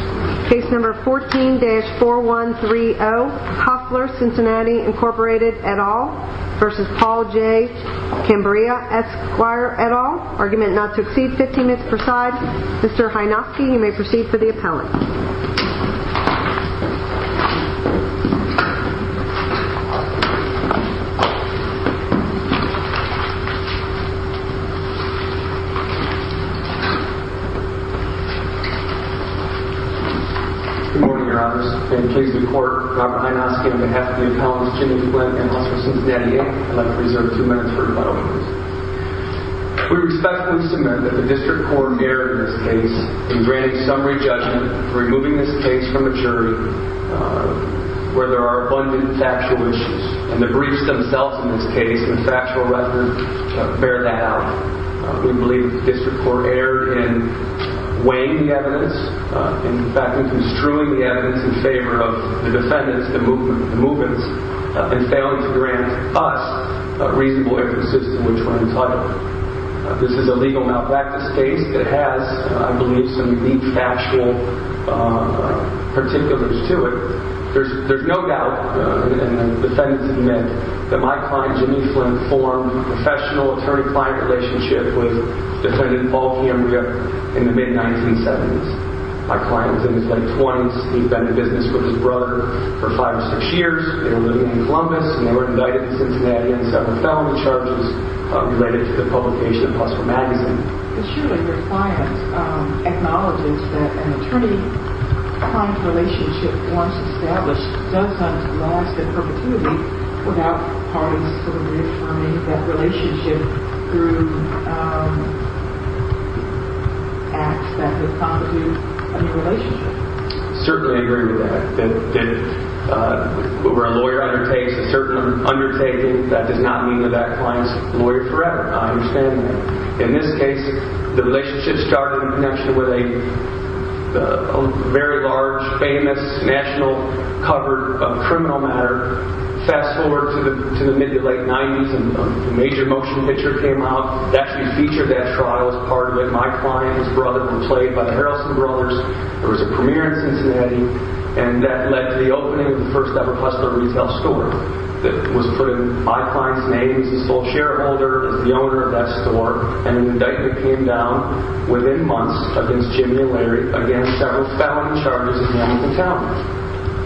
14-4130 Hustler Cincinnati Inc v. Paul J. Cambria Jr. Argument not to exceed 15 minutes per side. Mr. Hynoski you may proceed for the appellant. Good morning, your honors. In the case of the court, Robert Hynoski, on behalf of the appellants, Jimmy Flint and Hustler Cincinnati Inc, I'd like to reserve two minutes for rebuttal, please. We respectfully submit that the district court erred in this case in granting summary judgment, removing this case from the jury, where there are abundant factual issues. And the briefs themselves in this case and factual record bear that out. We believe the district court erred in weighing the evidence, in fact in construing the evidence in favor of the defendants, the movements, and failing to grant us a reasonable evidence system which we're entitled to. This is a legal malpractice case that has, I believe, some deep factual particulars to it. There's no doubt in the defendants' admit that my client Jimmy Flint formed a professional attorney-client relationship with defendant Paul Cambria in the mid-1970s. My client's in his late 20s. He'd been in business with his brother for five or six years. They were living in Columbus, and they were indicted in Cincinnati on seven felony charges related to the publication of Hustler Magazine. But surely your client acknowledges that an attorney-client relationship once established doesn't last in perpetuity without parties sort of reaffirming that relationship through acts that would constitute a new relationship. I certainly agree with that. Where a lawyer undertakes a certain undertaking, that does not mean that that client's a lawyer forever. I understand that. In this case, the relationship started in connection with a very large, famous, national cover of criminal matter. Fast forward to the mid-to-late 90s, and a major motion picture came out that actually featured that trial as part of it. My client and his brother were played by the Harrelson Brothers. There was a premiere in Cincinnati, and that led to the opening of the first-ever Hustler retail store that was put in my client's name.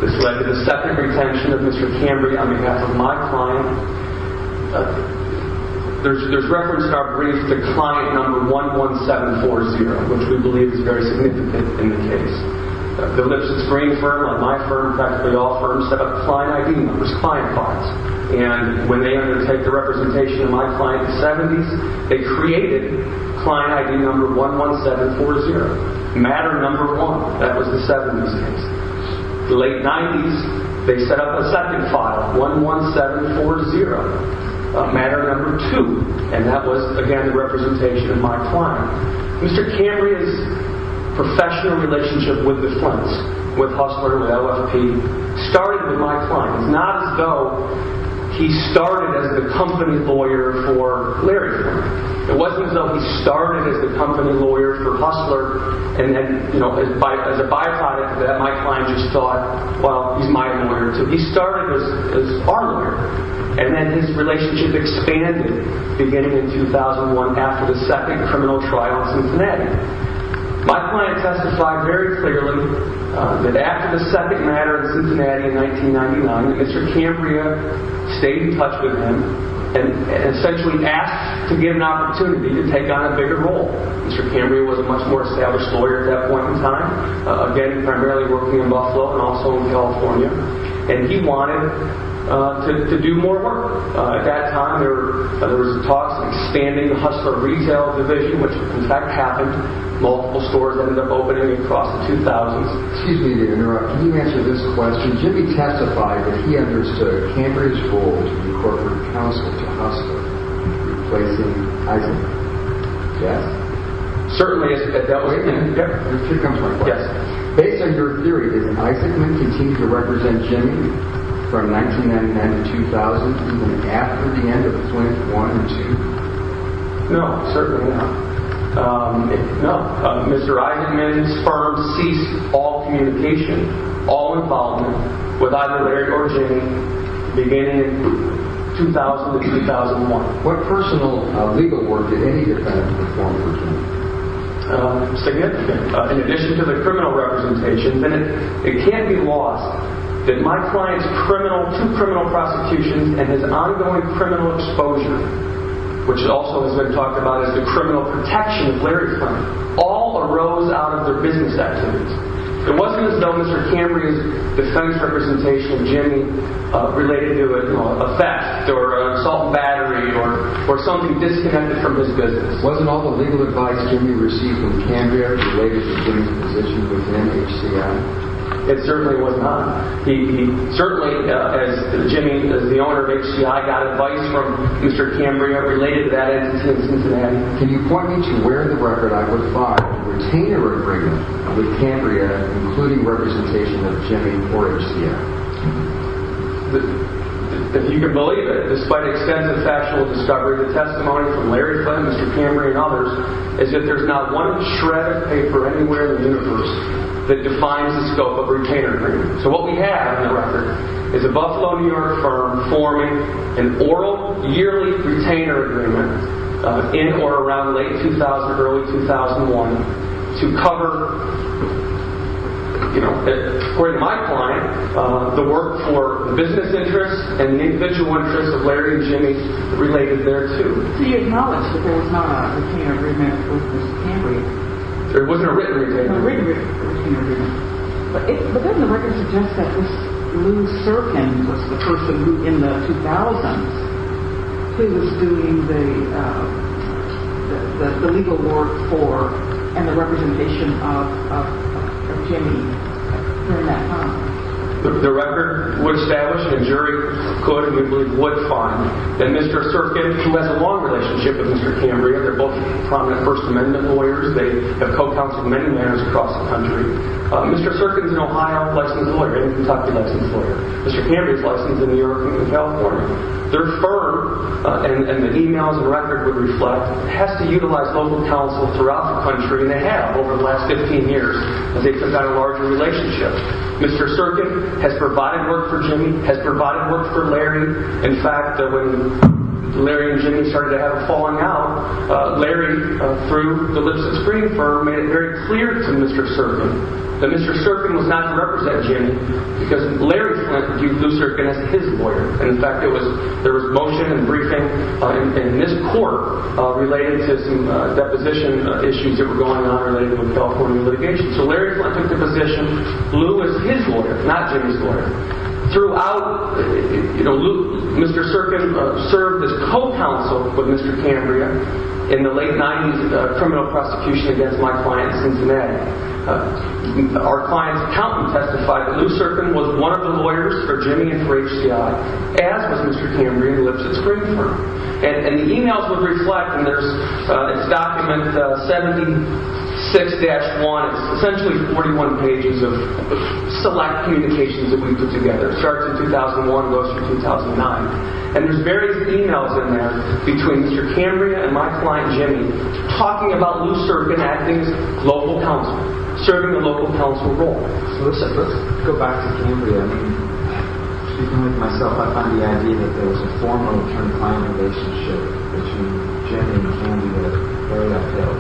This led to the second retention of Mr. Cambry on behalf of my client. There's reference in our brief to client number 11740, which we believe is very significant in the case. Bill Nipson's Green firm, like my firm, practically all firms, set up client ID numbers, client files. And when they undertook the representation of my client in the 70s, they created client ID number 11740, matter number one. That was the 70s case. The late 90s, they set up a second file, 11740, matter number two. And that was, again, the representation of my client. Mr. Cambry's professional relationship with the Flints, with Hustler, with LFP, started with my client. It's not as though he started as the company lawyer for Larry Flint. It wasn't as though he started as the company lawyer for Hustler, and then, you know, as a byproduct of that, my client just thought, well, he's my lawyer, too. He started as our lawyer. And then his relationship expanded, beginning in 2001, after the second criminal trial in Cincinnati. My client testified very clearly that after the second matter in Cincinnati in 1999, Mr. Cambry stayed in touch with him and essentially asked to get an opportunity to take on a bigger role. Mr. Cambry was a much more established lawyer at that point in time, again, primarily working in Buffalo and also in California. And he wanted to do more work. At that time, there were talks of expanding the Hustler retail division, which, in fact, happened. Multiple stores ended up opening across the 2000s. Can you answer this question? Jimmy testified that he understood Cambry's role to be corporate counsel to Hustler, replacing Eisenman. Yes? Certainly. Wait a minute. Here comes my question. Based on your theory, did Eisenman continue to represent Jimmy from 1999 to 2000, even after the end of Flint I and II? No, certainly not. No. Mr. Eisenman's firm ceased all communication, all involvement with either Larry or Jimmy, beginning in 2000 to 2001. What personal legal work did any of that perform for Jimmy? In addition to the criminal representation, it can be lost that my client's two criminal prosecutions and his ongoing criminal exposure, which also has been talked about as the criminal protection of Larry Flint, all arose out of their business activities. It wasn't as though Mr. Cambry's defense representation of Jimmy related to a theft or an assault battery or something disconnected from his business. Wasn't all the legal advice Jimmy received from Cambria related to Jimmy's position within HCI? It certainly was not. He certainly, as Jimmy, as the owner of HCI, got advice from Mr. Cambria related to that entity in Cincinnati. Can you point me to where in the record I would find a retainer agreement with Cambria including representation of Jimmy or HCI? If you can believe it, despite extensive factual discovery, the testimony from Larry Flint, Mr. Cambria, and others, is that there's not one shred of paper anywhere in the universe that defines the scope of a retainer agreement. So what we have in the record is a Buffalo, New York firm forming an oral yearly retainer agreement in or around late 2000 or early 2001 to cover, according to my client, the work for the business interests and the individual interests of Larry and Jimmy related thereto. So you acknowledge that there was not a retainer agreement with Mr. Cambria? There wasn't a written retainer agreement. But doesn't the record suggest that this Lou Serkin was the person who, in the 2000s, he was doing the legal work for and the representation of Jimmy during that time? The record would establish, and a jury could and we believe would find, that Mr. Serkin, who has a long relationship with Mr. Cambria, they're both prominent First Amendment lawyers, they have co-counseled many mayors across the country. Mr. Serkin's an Ohio licensed lawyer, a Kentucky licensed lawyer. Mr. Cambria's licensed in New York and California. Their firm, and the e-mails and record would reflect, has to utilize local counsel throughout the country, and they have over the last 15 years as they've put down a larger relationship. Mr. Serkin has provided work for Jimmy, has provided work for Larry. In fact, when Larry and Jimmy started to have a falling out, Larry, through the Lipsett Screening Firm, made it very clear to Mr. Serkin that Mr. Serkin was not to represent Jimmy because Larry Flint viewed Lou Serkin as his lawyer. In fact, there was motion and briefing in this court related to some deposition issues that were going on related to the California litigation. So Larry Flint took the position Lou is his lawyer, not Jimmy's lawyer. Throughout, Mr. Serkin served as co-counsel with Mr. Cambria in the late 90s criminal prosecution against my client Cincinnati. Our client's accountant testified that Lou Serkin was one of the lawyers for Jimmy and for HCI, as was Mr. Cambria, who lives at the Screening Firm. And the emails would reflect, and there's document 76-1, it's essentially 41 pages of select communications that we put together. It starts in 2001 and goes through 2009. And there's various emails in there between Mr. Cambria and my client Jimmy talking about Lou Serkin acting as local counsel, serving a local counsel role. First, I'd like to go back to Cambria. I mean, speaking with myself, I find the idea that there was a formal and term client relationship between Jimmy and Cambria very uphill.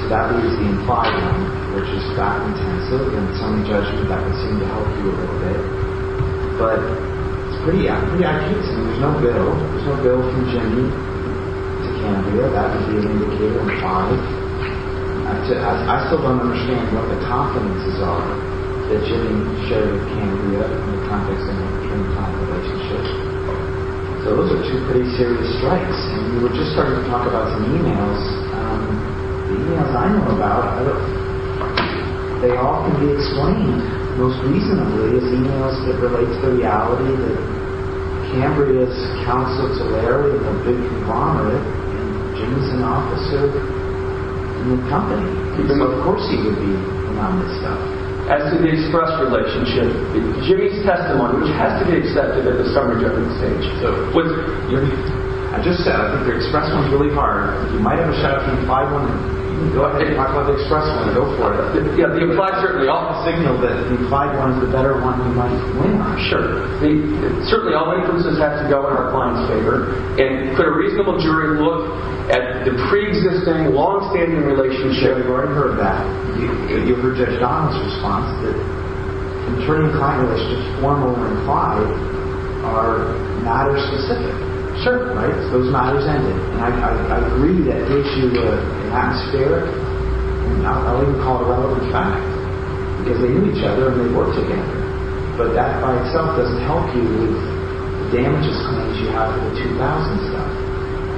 So that leaves the implied one, which is back in Tennessee. Again, it's only judgment that would seem to help you a little bit. But it's pretty obvious. I mean, there's no bill. There's no bill from Jimmy to Cambria. That would be an indicator implied. I still don't understand what the confidences are that Jimmy showed Cambria in the context of an implied relationship. So those are two pretty serious strikes. And you were just starting to talk about some emails. The emails I know about, they all can be explained most reasonably as emails that relate to the reality that Cambria is counsel to Larry and a big conglomerate. And Jimmy's an officer in the company. Of course he would be around this stuff. As to the expressed relationship, Jimmy's testimony, which has to be accepted at the summary judgment stage. I just said, I think the expressed one's really hard. You might have a shot at the implied one. Go ahead and talk about the expressed one and go for it. The implied certainly often signals that the implied one's the better one you might win on. Sure. Certainly all inferences have to go in our client's favor. And could a reasonable jury look at the pre-existing, long-standing relationship? You've already heard that. You've heard Judge Donaldson's response to it. An attorney and client relationship, one over implied, are matter-specific. Sure. Right? Those matters end it. And I agree that gives you an atmospheric, I don't even call it a relevant fact, because they knew each other and they worked together. But that by itself doesn't help you with the damage assignments you have to the 2000s stuff.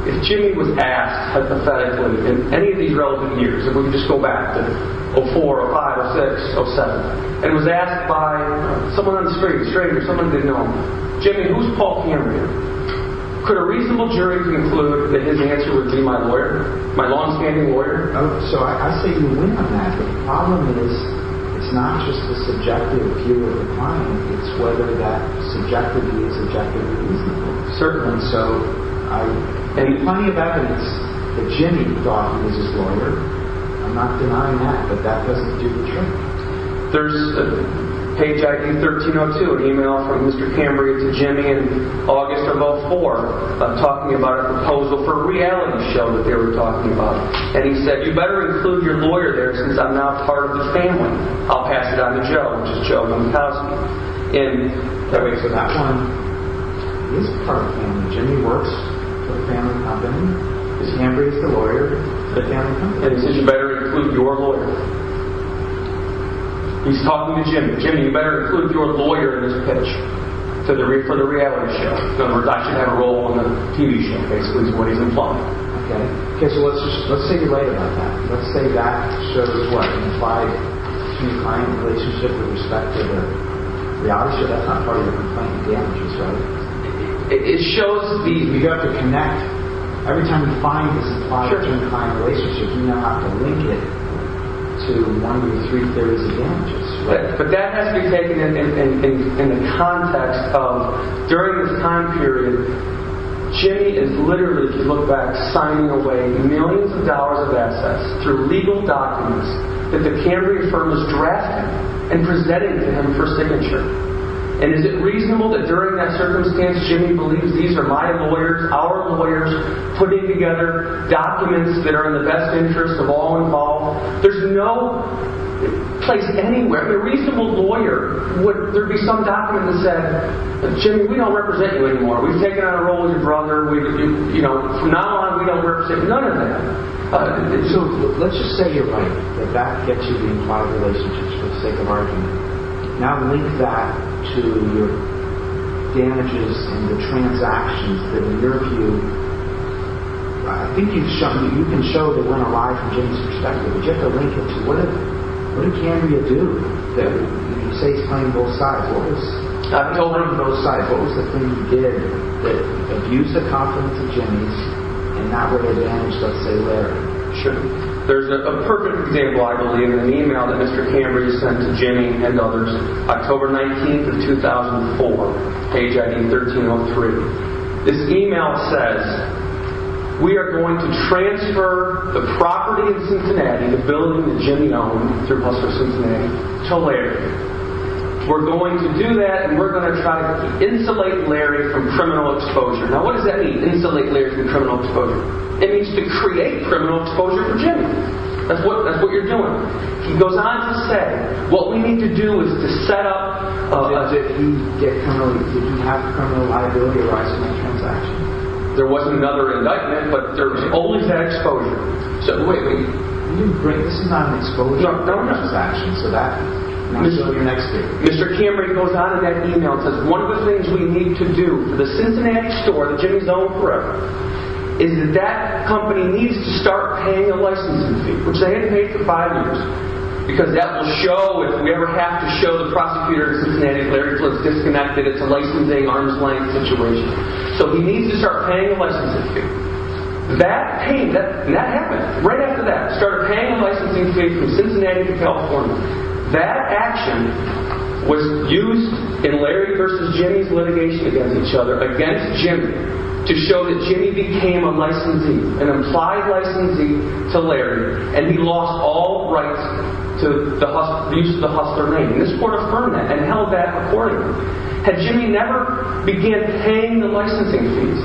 If Jimmy was asked hypothetically in any of these relevant years, if we could just go back to 04, 05, 06, 07, and was asked by someone on the street, a stranger, someone he didn't know, Jimmy, who's Paul Cameron here? Could a reasonable jury conclude that his answer would be my lawyer, my long-standing lawyer? So I say you win on that. The problem is it's not just the subjective view of the client. It's whether that subjectivity is objectively reasonable. Certainly. So any plenty of evidence that Jimmy thought he was his lawyer, I'm not denying that, but that doesn't do the trick. There's a page ID 1302, an email from Mr. Cambria to Jimmy in August of 04, talking about a proposal for a reality show that they were talking about. And he said, you better include your lawyer there since I'm not part of the family. I'll pass it on to Joe, which is Joe Montazzi. And that makes it not fun. He isn't part of the family. Jimmy works for a family company. Mr. Cambria is the lawyer for the family company. And he says, you better include your lawyer. He's talking to Jimmy. Jimmy, you better include your lawyer in this pitch for the reality show. I should have a role in the TV show, basically, is what he's implying. Okay. Okay, so let's say you're right about that. Let's say that shows what? An implied twin-client relationship with respect to the reality show. That's not part of the implied damages, right? It shows the, you have to connect. Every time you find this implied twin-client relationship, you now have to link it to one of the three theories of damages. But that has to be taken in the context of, during this time period, Jimmy is literally, if you look back, signing away millions of dollars of assets through legal documents that the Cambria firm has drafted and presented to him for signature. And is it reasonable that during that circumstance, Jimmy believes these are my lawyers, our lawyers, putting together documents that are in the best interest of all involved? There's no place anywhere, I mean, a reasonable lawyer, would there be some document that said, Jimmy, we don't represent you anymore. We've taken on a role with your brother. You know, from now on, we don't represent you. None of that. So, let's just say you're right. That that gets you the implied relationship, for the sake of argument. Now link that to your damages and the transactions that in your view, I think you can show that weren't a lie from Jimmy's perspective. But you have to link it to, what did Cambria do? You say it's playing both sides. I've told him both sides. What was the thing he did that abused the confidence of Jimmy's and not what he had managed, let's say Larry? Sure. There's a perfect example, I believe, in an email that Mr. Cambria sent to Jimmy and others, October 19th of 2004, page ID 1303. This email says, we are going to transfer the property in Cincinnati, the building that Jimmy owned through Buster Cincinnati, to Larry. We're going to do that and we're going to try to insulate Larry from criminal exposure. Now what does that mean, insulate Larry from criminal exposure? It means to create criminal exposure for Jimmy. That's what you're doing. He goes on to say, what we need to do is to set up a... Did he have criminal liability rights in that transaction? There was another indictment, but there was only that exposure. So, wait, wait. This is not an exposure transaction. Mr. Cambria goes on in that email and says, one of the things we need to do for the Cincinnati store that Jimmy's owned forever is that that company needs to start paying the licensing fee, which they hadn't paid for five years, because that will show, if we ever have to show the prosecutor in Cincinnati that Larry was disconnected, it's a licensing arm's length situation. So he needs to start paying the licensing fee. That happened. Right after that, they started paying the licensing fees from Cincinnati to California. That action was used in Larry versus Jimmy's litigation against each other, against Jimmy, to show that Jimmy became a licensee, an implied licensee to Larry, and he lost all rights to the use of the Hustler name. And this court affirmed that and held that accordingly. Had Jimmy never began paying the licensing fees,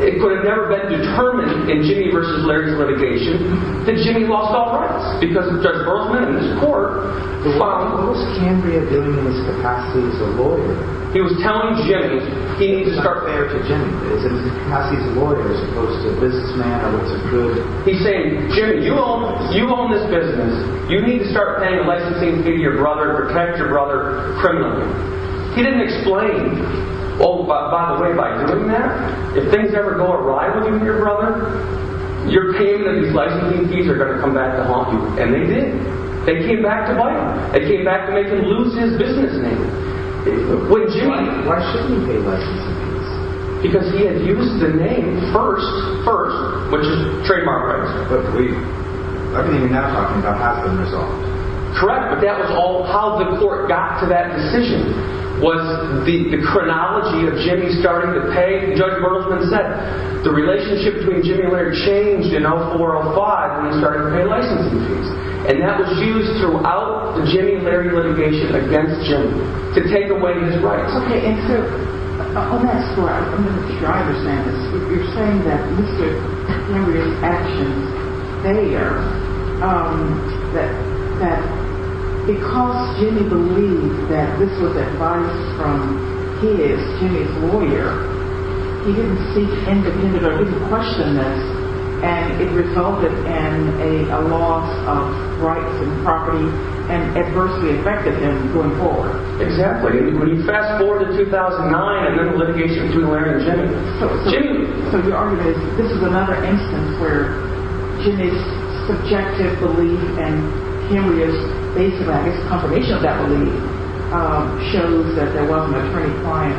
it could have never been determined in Jimmy versus Larry's litigation that Jimmy lost all rights because of Judge Berkman and his court. But what was Cambria doing in his capacity as a lawyer? He was telling Jimmy he needs to start paying. It's not fair to Jimmy. It's in his capacity as a lawyer as opposed to a businessman or what's a good... He's saying, Jimmy, you own this business. You need to start paying the licensing fee to your brother to protect your brother criminally. He didn't explain, oh, by the way, by doing that, if things ever go awry with you and your brother, you're paying them these licensing fees or they're going to come back to haunt you. And they did. They came back to bite him. They came back to make him lose his business name. Why shouldn't he pay licensing fees? Because he had used the name first, first, which is trademark rights. But we're not even talking about passing the result. Correct, but that was all how the court got to that decision was the chronology of Jimmy starting to pay, and Judge Bergman said the relationship between Jimmy and Larry changed in 0405 when he started to pay licensing fees. And that was used throughout the Jimmy and Larry litigation against Jimmy to take away his rights. Okay, and so on that score, I'm not sure I understand this. You're saying that Mr. Cambria's actions, they are, that because Jimmy believed that this was advice from his, Jimmy's lawyer, he didn't seek independent or he didn't question this, and it resulted in a loss of rights and property and adversely affected him going forward. Exactly. When you fast forward to 2009 and then the litigation between Larry and Jimmy. So your argument is this is another instance where Jimmy's subjective belief and Cambria's basic, I guess, confirmation of that belief shows that there wasn't a pretty fine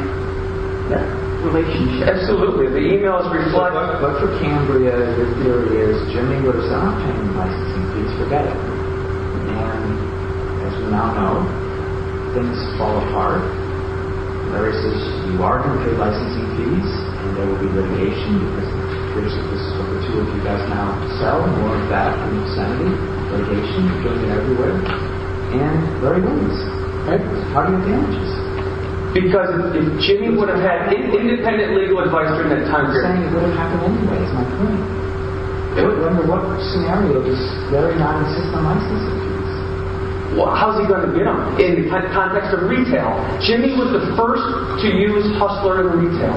relationship. Absolutely. The e-mails reflect that. But for Cambria, the theory is Jimmy was not paying licensing fees for Betty. And as we now know, things fall apart. Larry says you are going to pay licensing fees and there will be litigation because this is what the two of you guys now sell, more of that and Yosemite. Litigation, you're going to get everywhere. And Larry wins. Okay? Party of damages. Because if Jimmy would have had independent legal advice during that time period. I'm saying it would have happened anyway, is my point. I wonder what scenario this Larry not insist on licensing fees. How's he going to get them? In the context of retail, Jimmy was the first to use Hustler in retail.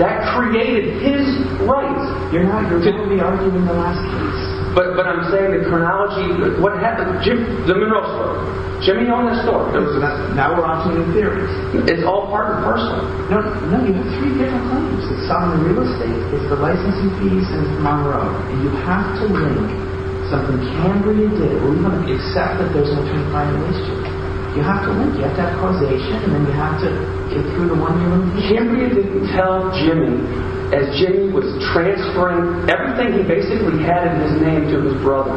That created his rights. You're not, you're typically arguing the last case. But I'm saying the chronology, what happened, the mineral store. Jimmy owned the store. Now we're on to the theories. It's all part and parcel. No, you have three different claims. It's sovereign real estate, it's the licensing fees and Monroe. And you have to link something Cambria did except that there's an alternate violation. You have to link, you have to have causation, and then you have to get through the one year limitation. Cambria didn't tell Jimmy. As Jimmy was transferring everything he basically had in his name to his brother.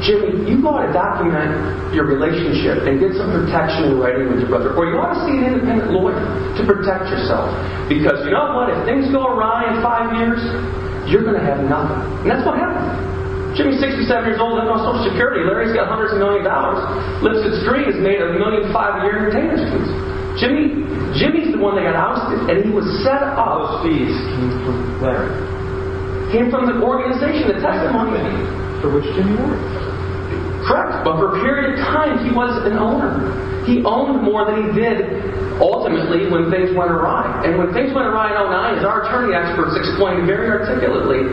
Jimmy, you ought to document your relationship and get some protection in writing with your brother. Or you ought to see an independent lawyer to protect yourself. Because you know what, if things go awry in five years, you're going to have nothing. And that's what happened. Jimmy's 67 years old, he doesn't have Social Security. Larry's got hundreds of millions of dollars. Lipscomb's dream is to make a million five-year entertainment agency. Jimmy's the one that got ousted. And he was set on those fees. It came from Larry. It came from the organization that tested money. For which Jimmy worked. Correct. But for a period of time, he was an owner. He owned more than he did ultimately when things went awry. And when things went awry in 2009, as our attorney experts explained very articulately,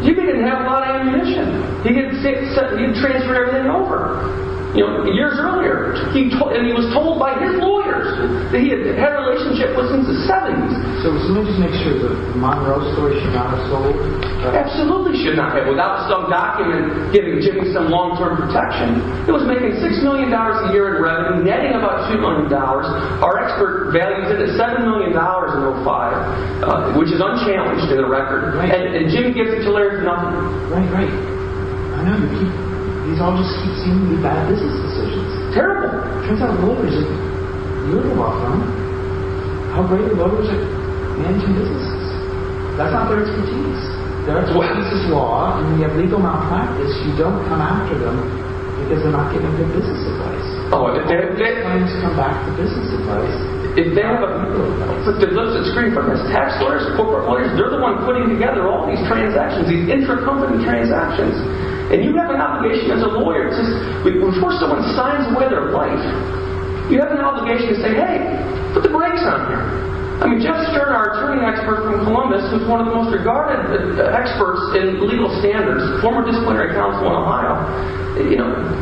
Jimmy didn't have a lot of ammunition. He didn't transfer everything over. Years earlier, he was told by his lawyers that he had had a relationship with him since the 70s. So let me just make sure the Monroe story should not have sold. Absolutely should not have. Without some document giving Jimmy some long-term protection. He was making $6 million a year in revenue, netting about $2 million. Our expert values it at $7 million in 2005. Which is unchallenged to the record. And Jimmy gives it to Larry for nothing. Right, right. I know. These all just seem to be bad business decisions. Terrible. Turns out voters are really welcome. How great are voters at managing businesses? That's not their expertise. That's business law. And when you have legal malpractice, you don't come after them because they're not giving good business advice. Oh, and they're planning to come back for business advice. If they have a... Look, there's a screen for this. Tax lawyers, corporate lawyers, they're the ones putting together all these transactions, these intracompany transactions. And you have an obligation as a lawyer to, before someone signs away their life, you have an obligation to say, hey, put the brakes on here. I mean, Jeff Stern, our attorney expert from Columbus, who's one of the most regarded experts in legal standards, former disciplinary counsel in Ohio,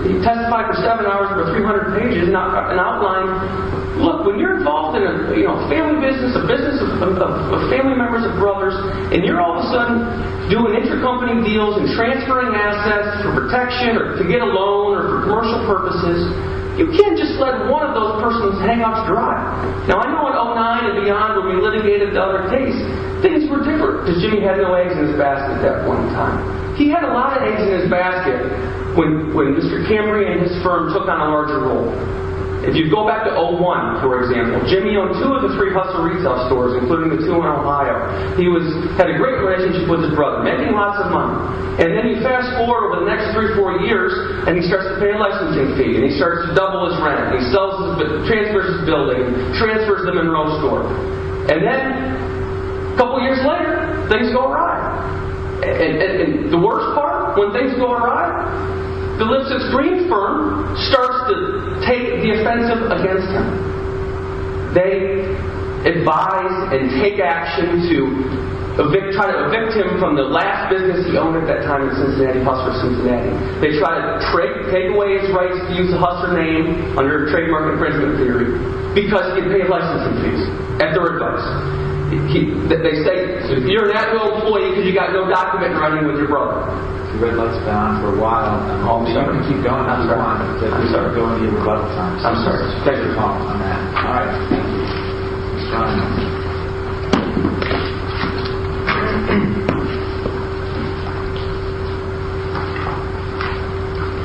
he testified for seven hours for 300 pages, not an outline. Look, when you're involved in a family business, a business of family members and brothers, and you're all of a sudden doing intracompany deals and transferring assets for protection or to get a loan or for commercial purposes, you can't just let one of those person's hang-ups dry. Now, I know in 2009 and beyond when we litigated the other case, things were different because Jimmy had no eggs in his basket at that point in time. He had a lot of eggs in his basket when Mr. Camry and his firm took on a larger role. If you go back to 2001, for example, Jimmy owned two of the three Hustler retail stores, including the two in Ohio. He had a great relationship with his brother, making lots of money. And then he fast-forward over the next three or four years, and he starts to pay a licensing fee, and he starts to double his rent, and he transfers his building, transfers them in real estate. And then, a couple years later, things go awry. And the worst part, when things go awry, Phillips's green firm starts to take the offensive against him. They advise and take action to try to evict him from the last business he owned at that time in Cincinnati, Hustler Cincinnati. They try to take away his rights to use the Hustler name under trademark infringement theory because he paid licensing fees. And they're reversed. They say, you're not an employee because you've got no document running with your brother. The red light's gone. We're wild. I'm sorry. Keep going. I'm sorry. I'm sorry. Take your time on that. All right. Thank you. Ms. Johnson.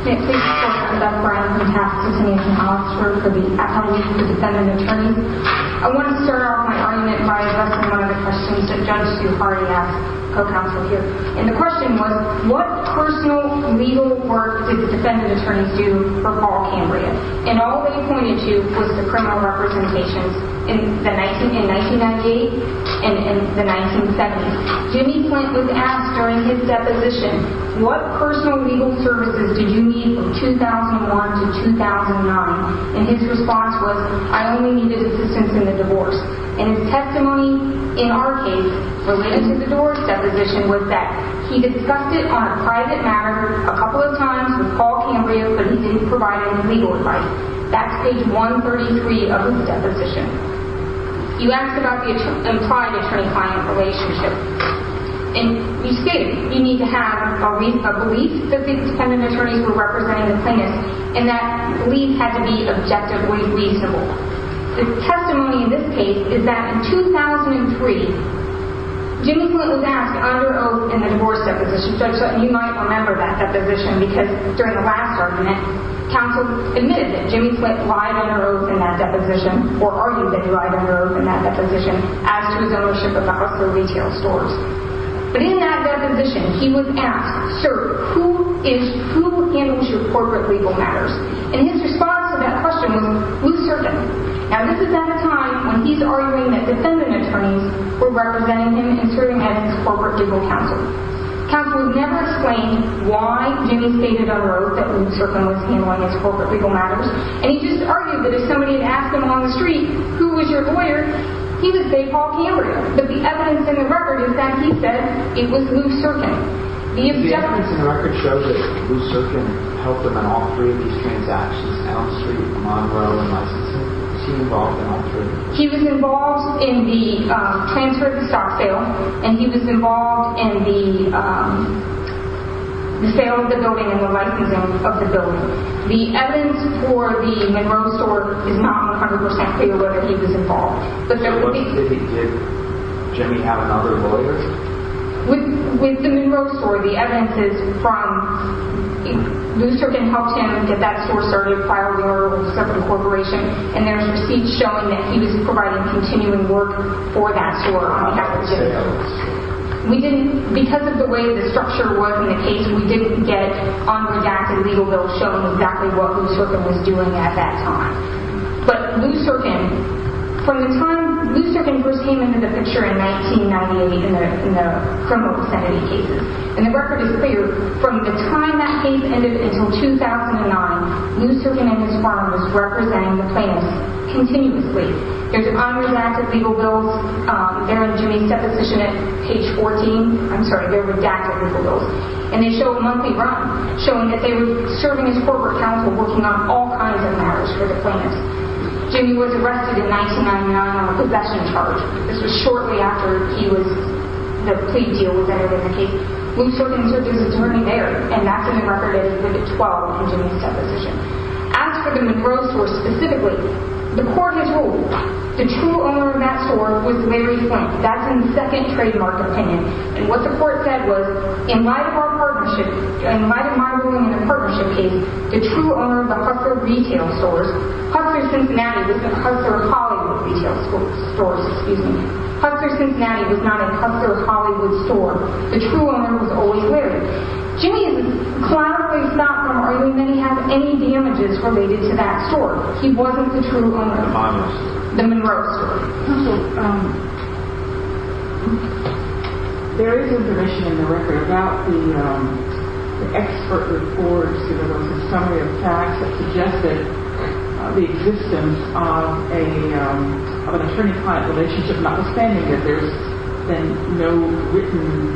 Nick, thank you so much. I'm Beth Brown from TAP, Cincinnati. I'm an attorney for the Appellate League for Defendant Attorneys. I want to start off my argument by addressing one of the questions that Judge Sue Hardy asked her counsel here. And the question was, what personal legal work did the Defendant Attorneys do for Paul Cambria? And all they pointed to was the criminal representations in 1998 and in the 1970s. Jimmy Flint was asked during his deposition, what personal legal services did you need from 2001 to 2009? And his response was, I only needed assistance in the divorce. And his testimony, in our case, related to the divorce deposition was that he discussed it on a private matter a couple of times with Paul Cambria, but he didn't provide any legal advice. That's page 133 of his deposition. He asked about the implied attorney-client relationship. And he stated, you need to have a belief that the Defendant Attorneys were representing the plaintiffs and that belief had to be objectively reasonable. The testimony in this case is that in 2003, Jimmy Flint was asked under oath in the divorce deposition. Judge Sutton, you might remember that deposition because during the last argument, counsel admitted that Jimmy Flint lied under oath in that deposition or argued that he lied under oath in that deposition as to his ownership of the Hustler retail stores. But in that deposition, he was asked, sir, who handles your corporate legal matters? And his response to that question was, who's serving? Now this is at a time when he's arguing that Defendant Attorneys were representing him and serving as his corporate legal counsel. Counsel would never explain why Jimmy stated under oath that Lou Serkin was handling his corporate legal matters. And he just argued that if somebody had asked him on the street, who was your lawyer, he would say Paul Cambria. But the evidence in the record is that he said it was Lou Serkin. The evidence in the record shows that Lou Serkin helped him in all three of these transactions down the street, Monroe and licensing. Was he involved in all three? He was involved in the transfer of the stock sale and he was involved in the sale of the building and the licensing of the building. The evidence for the Monroe store is not 100% clear whether he was involved. But there would be... So what if he did? Did Jimmy have another lawyer? With the Monroe store, the evidence is from Lou Serkin helped him get that store started, filed an order with a separate corporation, and there's receipts showing that he was providing continuing work for that store on behalf of Jimmy Edwards. We didn't... Because of the way the structure was in the case, we didn't get unredacted legal bills showing exactly what Lou Serkin was doing at that time. But Lou Serkin... From the time... Lou Serkin first came into the picture in 1998 in the criminal insanity cases. And the record is clear. From the time that case ended until 2009, Lou Serkin and his firm was representing the plaintiffs continuously. There's unredacted legal bills. They're in Jimmy's deposition at page 14. I'm sorry, they're redacted legal bills. And they show a monthly run showing that they were serving as corporate counsel working on all kinds of matters for the plaintiffs. Jimmy was arrested in 1999 on a possession charge. This was shortly after he was... The plea deal was ended in the case. Lou Serkin served as attorney there, and that's in the record as limit 12 in Jimmy's deposition. As for the Monroe store specifically, the court has ruled the true owner of that store was Larry Flint. That's in the second trademark opinion. And what the court said was, in light of our partnership... In light of my ruling in the partnership case, the true owner of the Hustler retail stores... Hustler Cincinnati was... Hustler Hollywood retail stores, excuse me. Hustler Cincinnati was not a Hustler Hollywood store. The true owner was O.E. Larry. Jimmy's client was not from or he may have any damages related to that store. He wasn't the true owner of the Monroe store. There is information in the record about the expert reports that there was a summary of facts that suggested the existence of an attorney-client relationship, notwithstanding that there's been no written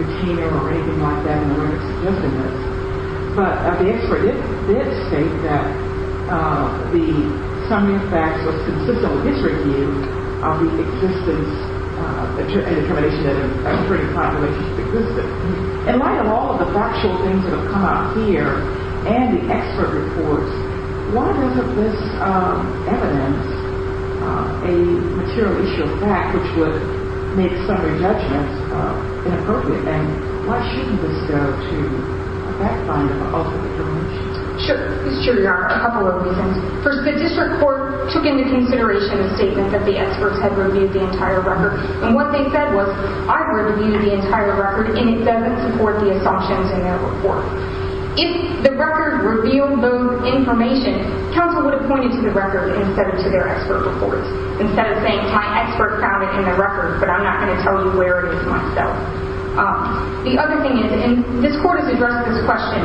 retainer or anything like that in the record suggesting this. But the expert did state that the summary of facts was consistent with his review of the existence and determination that an attorney-client relationship existed. In light of all of the factual things that have come out here and the expert reports, why isn't this evidence a material issue of fact which would make summary judgments inappropriate? Why shouldn't this go to a fact finder? Sure, there's a couple of reasons. First, the district court took into consideration the statement that the experts had reviewed the entire record. And what they said was, I reviewed the entire record and it doesn't support the assumptions in that report. If the record revealed those information, counsel would have pointed to the record instead of to their expert reports. Instead of saying, my expert found it in the record but I'm not going to tell you where it is myself. The other thing is, and this court has addressed this question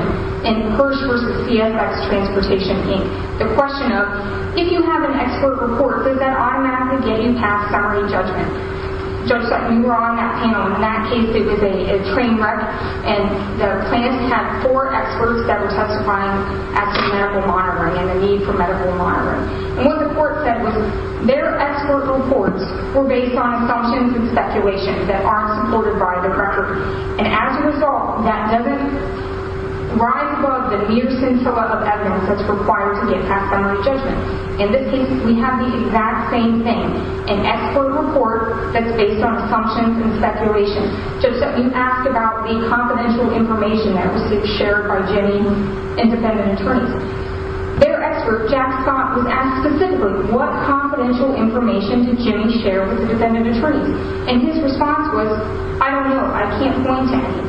in Hirsch v. CFX Transportation, Inc. The question of, if you have an expert report, does that automatically get you past summary judgment? Judge Sutton, you were on that panel. In that case, it was a train wreck and the plaintiff had four experts that were testifying as to medical monitoring and the need for medical monitoring. And what the court said was, their expert reports were based on assumptions and speculations that aren't supported by the record. And as a result, that doesn't rise above the mere scintilla of evidence that's required to get past summary judgment. In this case, we have the exact same thing. An expert report that's based on assumptions and speculations. Judge Sutton, you asked about the confidential information that was shared by Jenny and defendant attorneys. Their expert, Jack Scott, was asked specifically what confidential information did Jenny share with the defendant attorney? And his response was, I don't know, I can't point to any.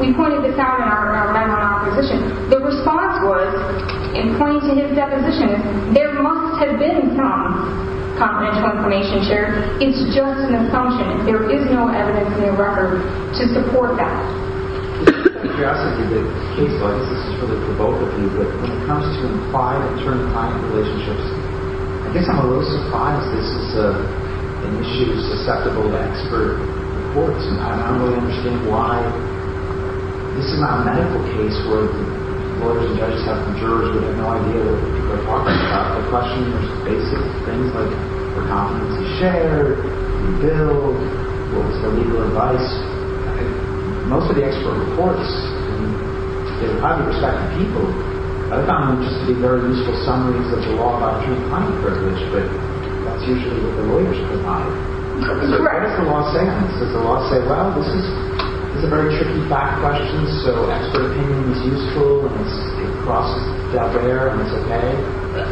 We pointed this out in our memo in opposition. The response was, in pointing to his deposition, there must have been some confidential information shared. It's just an assumption. There is no evidence in the record to support that. If you're asking me the case, I guess this is really provocal for you, but when it comes to implied attorney-client relationships, I guess I'm a little surprised this is an issue susceptible to expert reports. And I don't really understand why. This is not a medical case where lawyers and judges have jurors who have no idea what they're talking about. The question is basic things like were confidences shared? Did you build? Was there legal advice? Most of the expert reports, in the public respect of people, I found them just to be very useful summaries of the law by attorney-client privilege, but that's usually what the lawyers provide. So what does the law say? Does the law say, well, this is a very tricky fact question, so expert opinion is useful, and it crosses the barrier, and it's okay?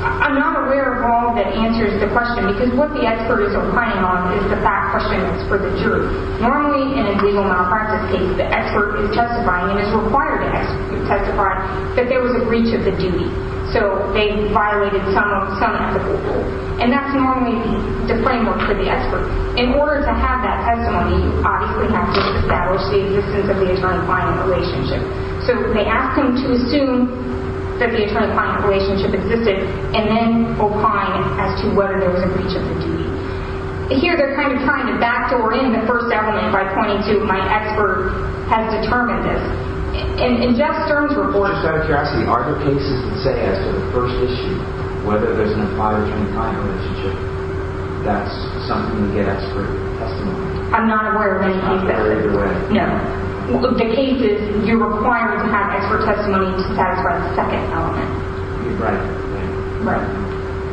I'm not aware of all that answers the question, because what the experts are pointing on is the fact question that's for the jury. Normally, in a legal malpractice case, the expert is justifying and is required to testify that there was a breach of the duty. So they violated some ethical rule, and that's normally the framework for the expert. In order to have that testimony, you obviously have to establish the existence of the attorney-client relationship. So they ask them to assume that the attorney-client relationship existed and then opine as to whether there was a breach of the duty. Here, they're kind of trying to backdoor in the first element by pointing to my expert has determined this. In Jeff Stern's report... Just out of curiosity, are there cases that say, as to the first issue, whether there's an attorney-client relationship, that's something you get expert testimony? I'm not aware of any cases. You're not aware either way? No. The case is, you're required to have expert testimony to satisfy the second element. Right. Right.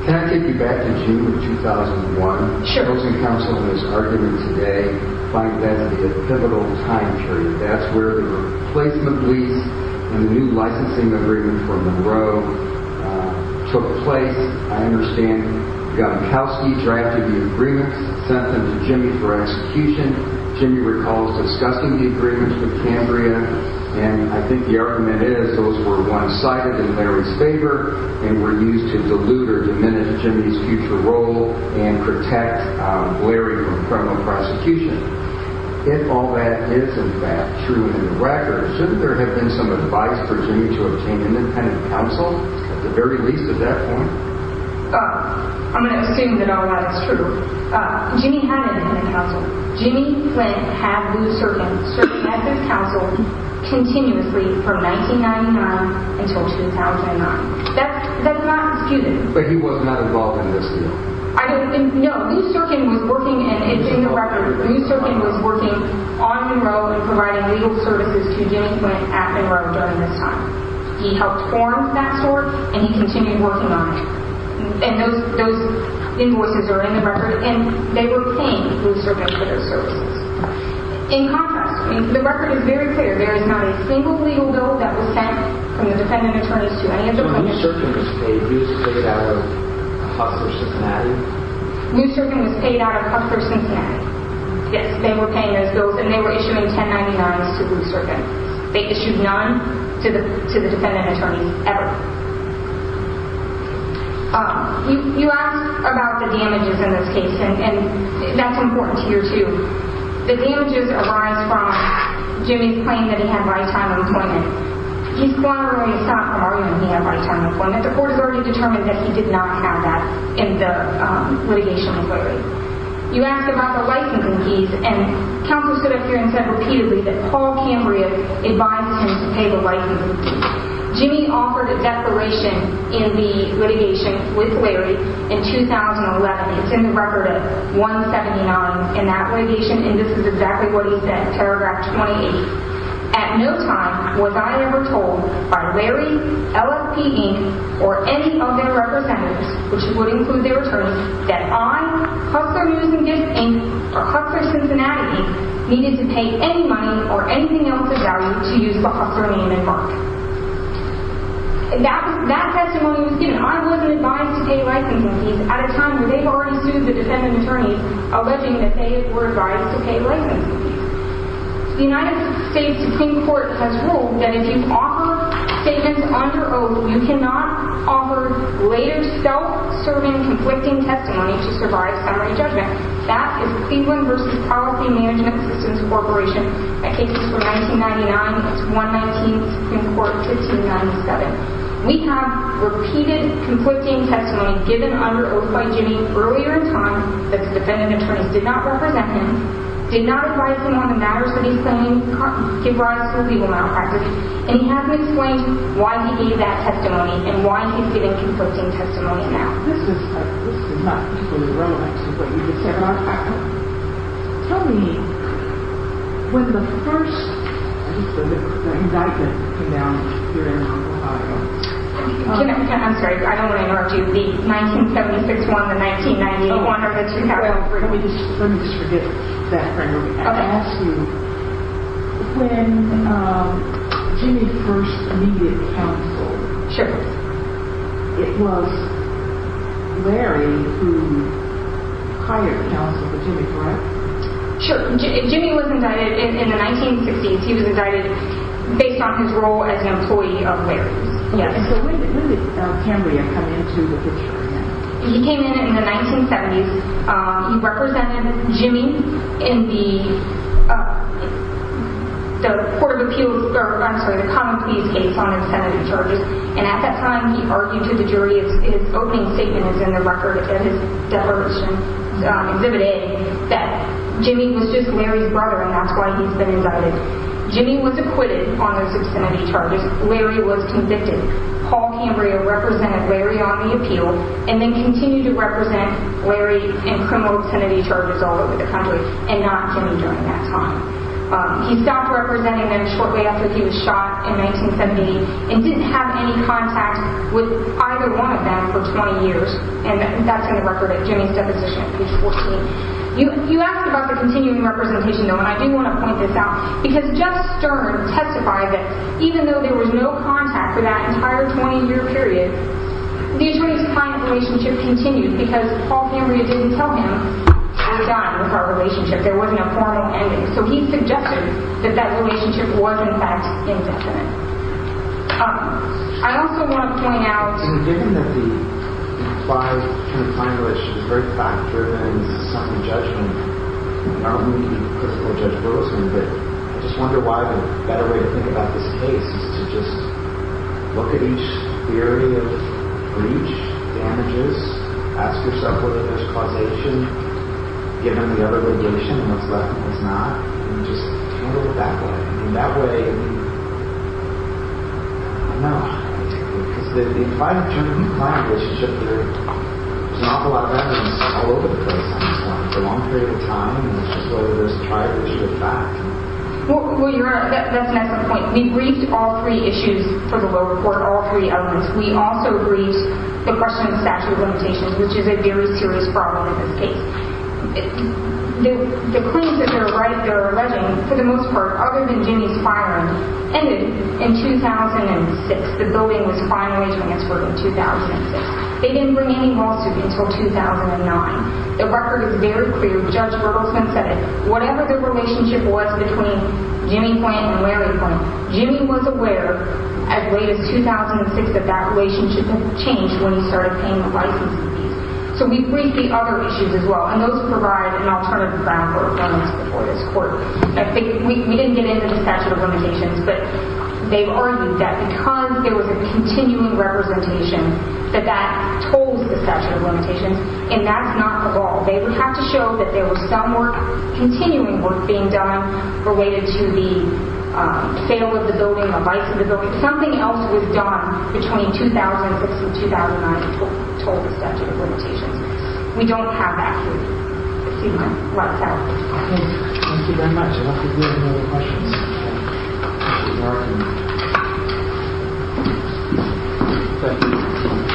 Can I take you back to June of 2001? Sure. The opposing counsel is arguing today that that's the pivotal time period. That's where the replacement lease and the new licensing agreement from Monroe took place. I understand Gavinkowski drafted the agreements, sent them to Jimmy for execution. Jimmy recalls discussing the agreements with Cambria, and I think the argument is those were one-sided in Larry's favor and were used to dilute or diminish Jimmy's future role and protect Larry from criminal prosecution. If all that is, in fact, true in the record, shouldn't there have been some advice for Jimmy to obtain independent counsel, at the very least, at that point? I'm going to assume that all that is true. Jimmy had independent counsel. Jimmy Flint had Lou Serkin serve as his counsel continuously from 1999 until 2009. That's not disputed. But he was not involved in this deal? No. Lou Serkin was working and it's in the record. Lou Serkin was working on Monroe and providing legal services to Jimmy Flint at Monroe during this time. He helped form that sort and he continued working on it. And those invoices are in the record and they were paid, Lou Serkin, for those services. In contrast, the record is very clear. There is not a single legal bill that was sent from the defendant attorneys to any of the plaintiffs. So Lou Serkin was paid out of Hufford Cincinnati? Lou Serkin was paid out of Hufford Cincinnati. Yes, they were paying those bills and they were issuing 1099s to Lou Serkin. They issued none to the defendant attorneys, ever. You asked about the damages in this case and that's important to hear too. The damages arise from Jimmy's claim that he had lifetime employment. He's formally stopped arguing he had lifetime employment. The court has already determined that he did not have that in the litigation with Larry. You asked about the licensing fees and counsel stood up here and said repeatedly that Paul Cambria advised him to pay the licensing fees. Jimmy offered a declaration in the litigation with Larry in 2011. It's in the record of 179 in that litigation and this is exactly what he said, paragraph 28. At no time was I ever told by Larry, LFP, Inc., or any of their representatives which would include their attorneys that I, Hufford News and Gifts, Inc., or Hufford Cincinnati, needed to pay any money or anything else of value to use the Hufford name and mark. That testimony was given. I wasn't advised to pay licensing fees at a time where they've already sued the defendant attorneys alleging that they were advised to pay licensing fees. The United States Supreme Court has ruled that if you offer statements on your own, you cannot offer later self-serving conflicting testimony to survive summary judgment. That is Cleveland v. Policy Management Systems Corporation. That case is from 1999. It's 119 in court 1597. We have repeated conflicting testimony given under oath by Jimmy earlier in time that the defendant attorneys did not represent him, did not advise him on the matters that he's claiming give rise to illegal malpractice, and he hasn't explained why he gave that testimony and why he's giving conflicting testimony now. This is not particularly relevant to what you just said, Martha. Tell me, when the first indictment came down here in Ohio... I'm sorry, I don't want to interrupt you. The 1976 one, the 1990 one, or the 2012 one... Let me just forget that for a moment. I have to ask you, when Jimmy first needed counsel, it was Larry who hired counsel for Jimmy, correct? Sure. Jimmy was indicted in the 1960s. He was indicted based on his role as an employee of Larry's. And so when did Cambria come into the picture again? He came in in the 1970s. He represented Jimmy in the Court of Appeals... I'm sorry, the Common Pleas case on obscenity charges. And at that time, he argued to the jury his opening statement is in the record of his declaration, Exhibit A, that Jimmy was just Larry's brother and that's why he's been indicted. Jimmy was acquitted on those obscenity charges. Larry was convicted. Paul Cambria represented Larry on the appeal and then continued to represent Larry in criminal obscenity charges all over the country and not Jimmy during that time. He stopped representing Larry shortly after he was shot in 1970 and didn't have any contact with either one of them for 20 years. And that's in the record of Jimmy's deposition, page 14. You asked about the continuing representation though, and I do want to point this out because Jeff Stern testified that even though there was no contact for that entire 20-year period, the attorney's time relationship continued because Paul Cambria didn't tell him he was done with our relationship. There wasn't a formal ending. So he suggested that that relationship was, in fact, indefinite. I also want to point out... Given that the implied kind of time relationship is very fact-driven, and this is something in judgment, and we don't need a personal judge for this, but I just wonder why a better way to think about this case is to just look at each theory of breach, damages, ask yourself whether there's causation given the other litigation, and what's left and what's not, and just handle it that way. And that way... I don't know. The implied term, implied relationship, there's an awful lot of evidence all over the place on this one. It's a long period of time, and it's just over this prior issue of fact. Well, Your Honor, that's an excellent point. We briefed all three issues for the will report, all three elements. We also briefed the question of statutory limitations, which is a very serious problem in this case. The claims that they're alleging, for the most part, other than Jimmy's firing, ended in 2006. The building was finally transferred in 2006. They didn't bring any more suits until 2009. The record is very clear. Judge Bertelsmann said it. Whatever the relationship was between Jimmy Plant and Larry Plant, Jimmy was aware as late as 2006 that that relationship had ceased. So we briefed the other issues as well, and those provide an alternative ground for evidence before this Court. We didn't get into the statute of limitations, but they've argued that because there was a continuing representation, that that told the statute of limitations, and that's not the ball. They would have to show that there was some work, continuing work, being done related to the sale of the building or vice of the building. Something else was done between 2006 and 2009 that told the statute of limitations. We don't have that. Thank you very much.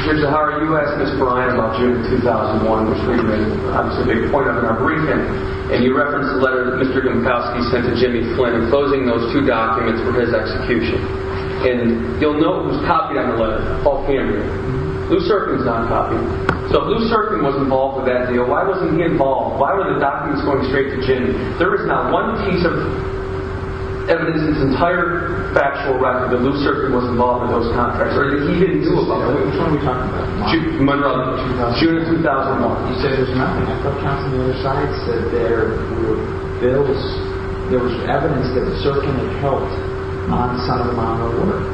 Judge Zahara, you asked Ms. Bryant about June 2001, which made a big point up in our briefing, and you referenced the letter that Mr. Domkowski sent to Jimmy Flynn, closing those two documents for his execution. And you'll note it was Paul Camden. Lou Serkin's non-copy. So if Lou Serkin was involved with that deal, why wasn't he involved? Why were the documents going straight to Jimmy? There is not one piece of evidence in this entire factual record that Lou Serkin was involved in those contracts. Or that he didn't do about it. Which one are we talking about? June 2001. June 2001. You said there's nothing. I thought counsel on the other side said there were bills, there was evidence that Serkin had helped on some amount of work.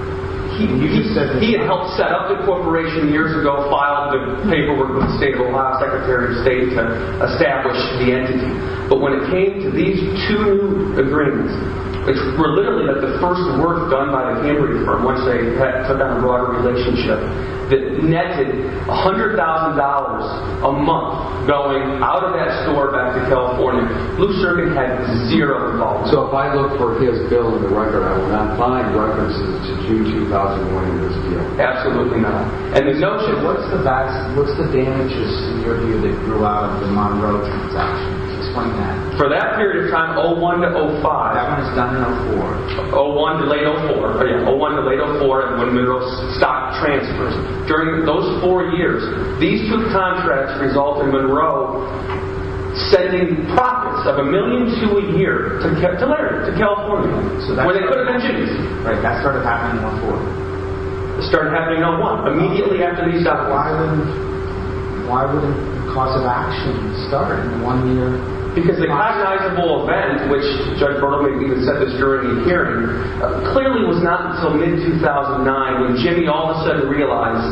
He had helped set up the corporation years ago, filed the paperwork with the State of Ohio, Secretary of State, to establish the entity. But when it came to these two agreements, which were literally the first work done by the Cambridge firm once they took that broader relationship, that netted $100,000 a month going out of that store back to California, Lou Serkin had zero involvement. So if I look for his bill in the record, I will not find references to June 2001 in this deal. Absolutely not. And the notion, what's the damage that grew out of the Monroe transactions? Explain that. For that period of time, 01-05, That one is 1904. 01 to late 04, when Monroe's stock transfers. During those four years, these two contracts resulted in Monroe sending profits of a million to a year to Larry, to California, where they could have been Jimmy's. That started happening in 01-04. It started happening in 01, immediately after he stopped. Why would a cause of action start in one year? Because the recognizable event, which Judge Berman even said this during the hearing, clearly was not until mid-2009 when Jimmy all of a sudden realized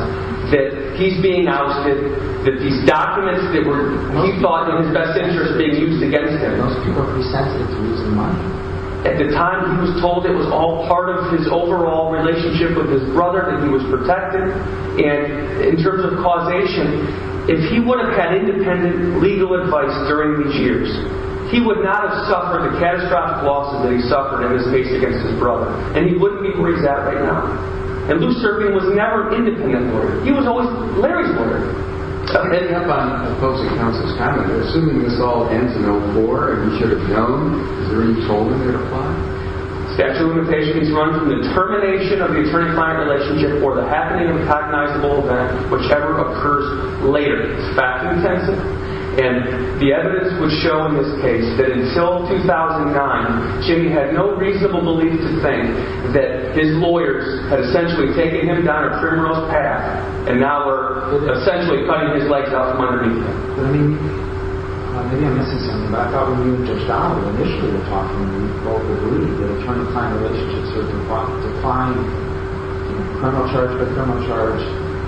that he's being ousted, that these documents that were he thought in his best interest are being used against him. At the time, he was told it was all part of his overall relationship with his brother, that he was protected, and in terms of causation, if he would have had independent legal advice during these years, he would not have suffered the catastrophic losses that he suffered in his case against his brother. And he wouldn't be where he's at right now. And Blue Serpent was never an independent lawyer. He was always Larry's lawyer. Heading up on folks' accounts this time, but assuming this all ends in a war, and he should have known, is there any toll in there to apply? Statute of limitations run from the termination of the eternifying relationship or the happening of a recognizable event, whichever occurs later. It's fact-intensive, and the evidence would show in his case that until 2009, Jimmy had no reasonable belief to think that his lawyers had essentially taken him down a criminal's path, and now were essentially cutting his legs off from underneath him. But I mean, maybe I'm missing something, but I thought when you and Judge Donnelly initially were talking, you both were believing that a termifying relationship is a decline in criminal charge by criminal charge,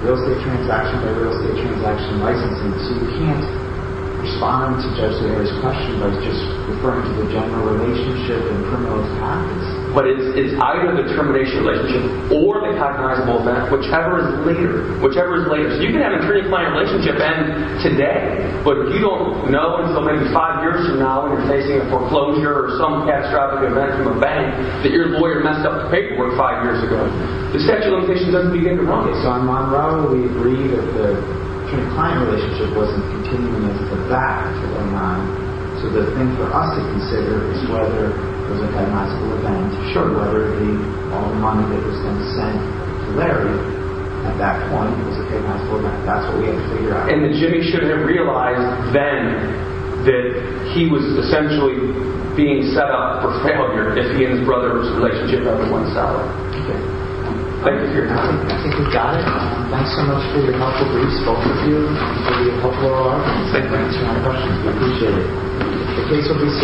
real estate transaction by real estate transaction licensing, so you can't respond to Judge Larry's question by just referring to the general relationship in criminal practice. But it's either the termination relationship or the recognizable event, whichever is later. Whichever is later. So you can have a termifying relationship end today, but you don't know until maybe five years from now when you're facing a foreclosure or some catastrophic event from a bank that your lawyer messed up the paperwork five years ago. The statute of limitations doesn't begin to run. Okay, so on one we agree that the termifying relationship wasn't continuing into the back of 2009, so the thing for us to consider is whether it was a ten-month school event. Sure, whether the money that was being sent to Larry at that point was a ten-month school event. That's what we have to figure out. And that Jimmy shouldn't have realized then that he was essentially being set up for failure if he and his brother's relationship wasn't settled. Okay. Thank you for your time. I think we've got it. Thanks so much for your helpful briefs, both of you. It's going to be a helpful hour. Thank you. I appreciate it. The case will be submitted for public appearance. Thank you.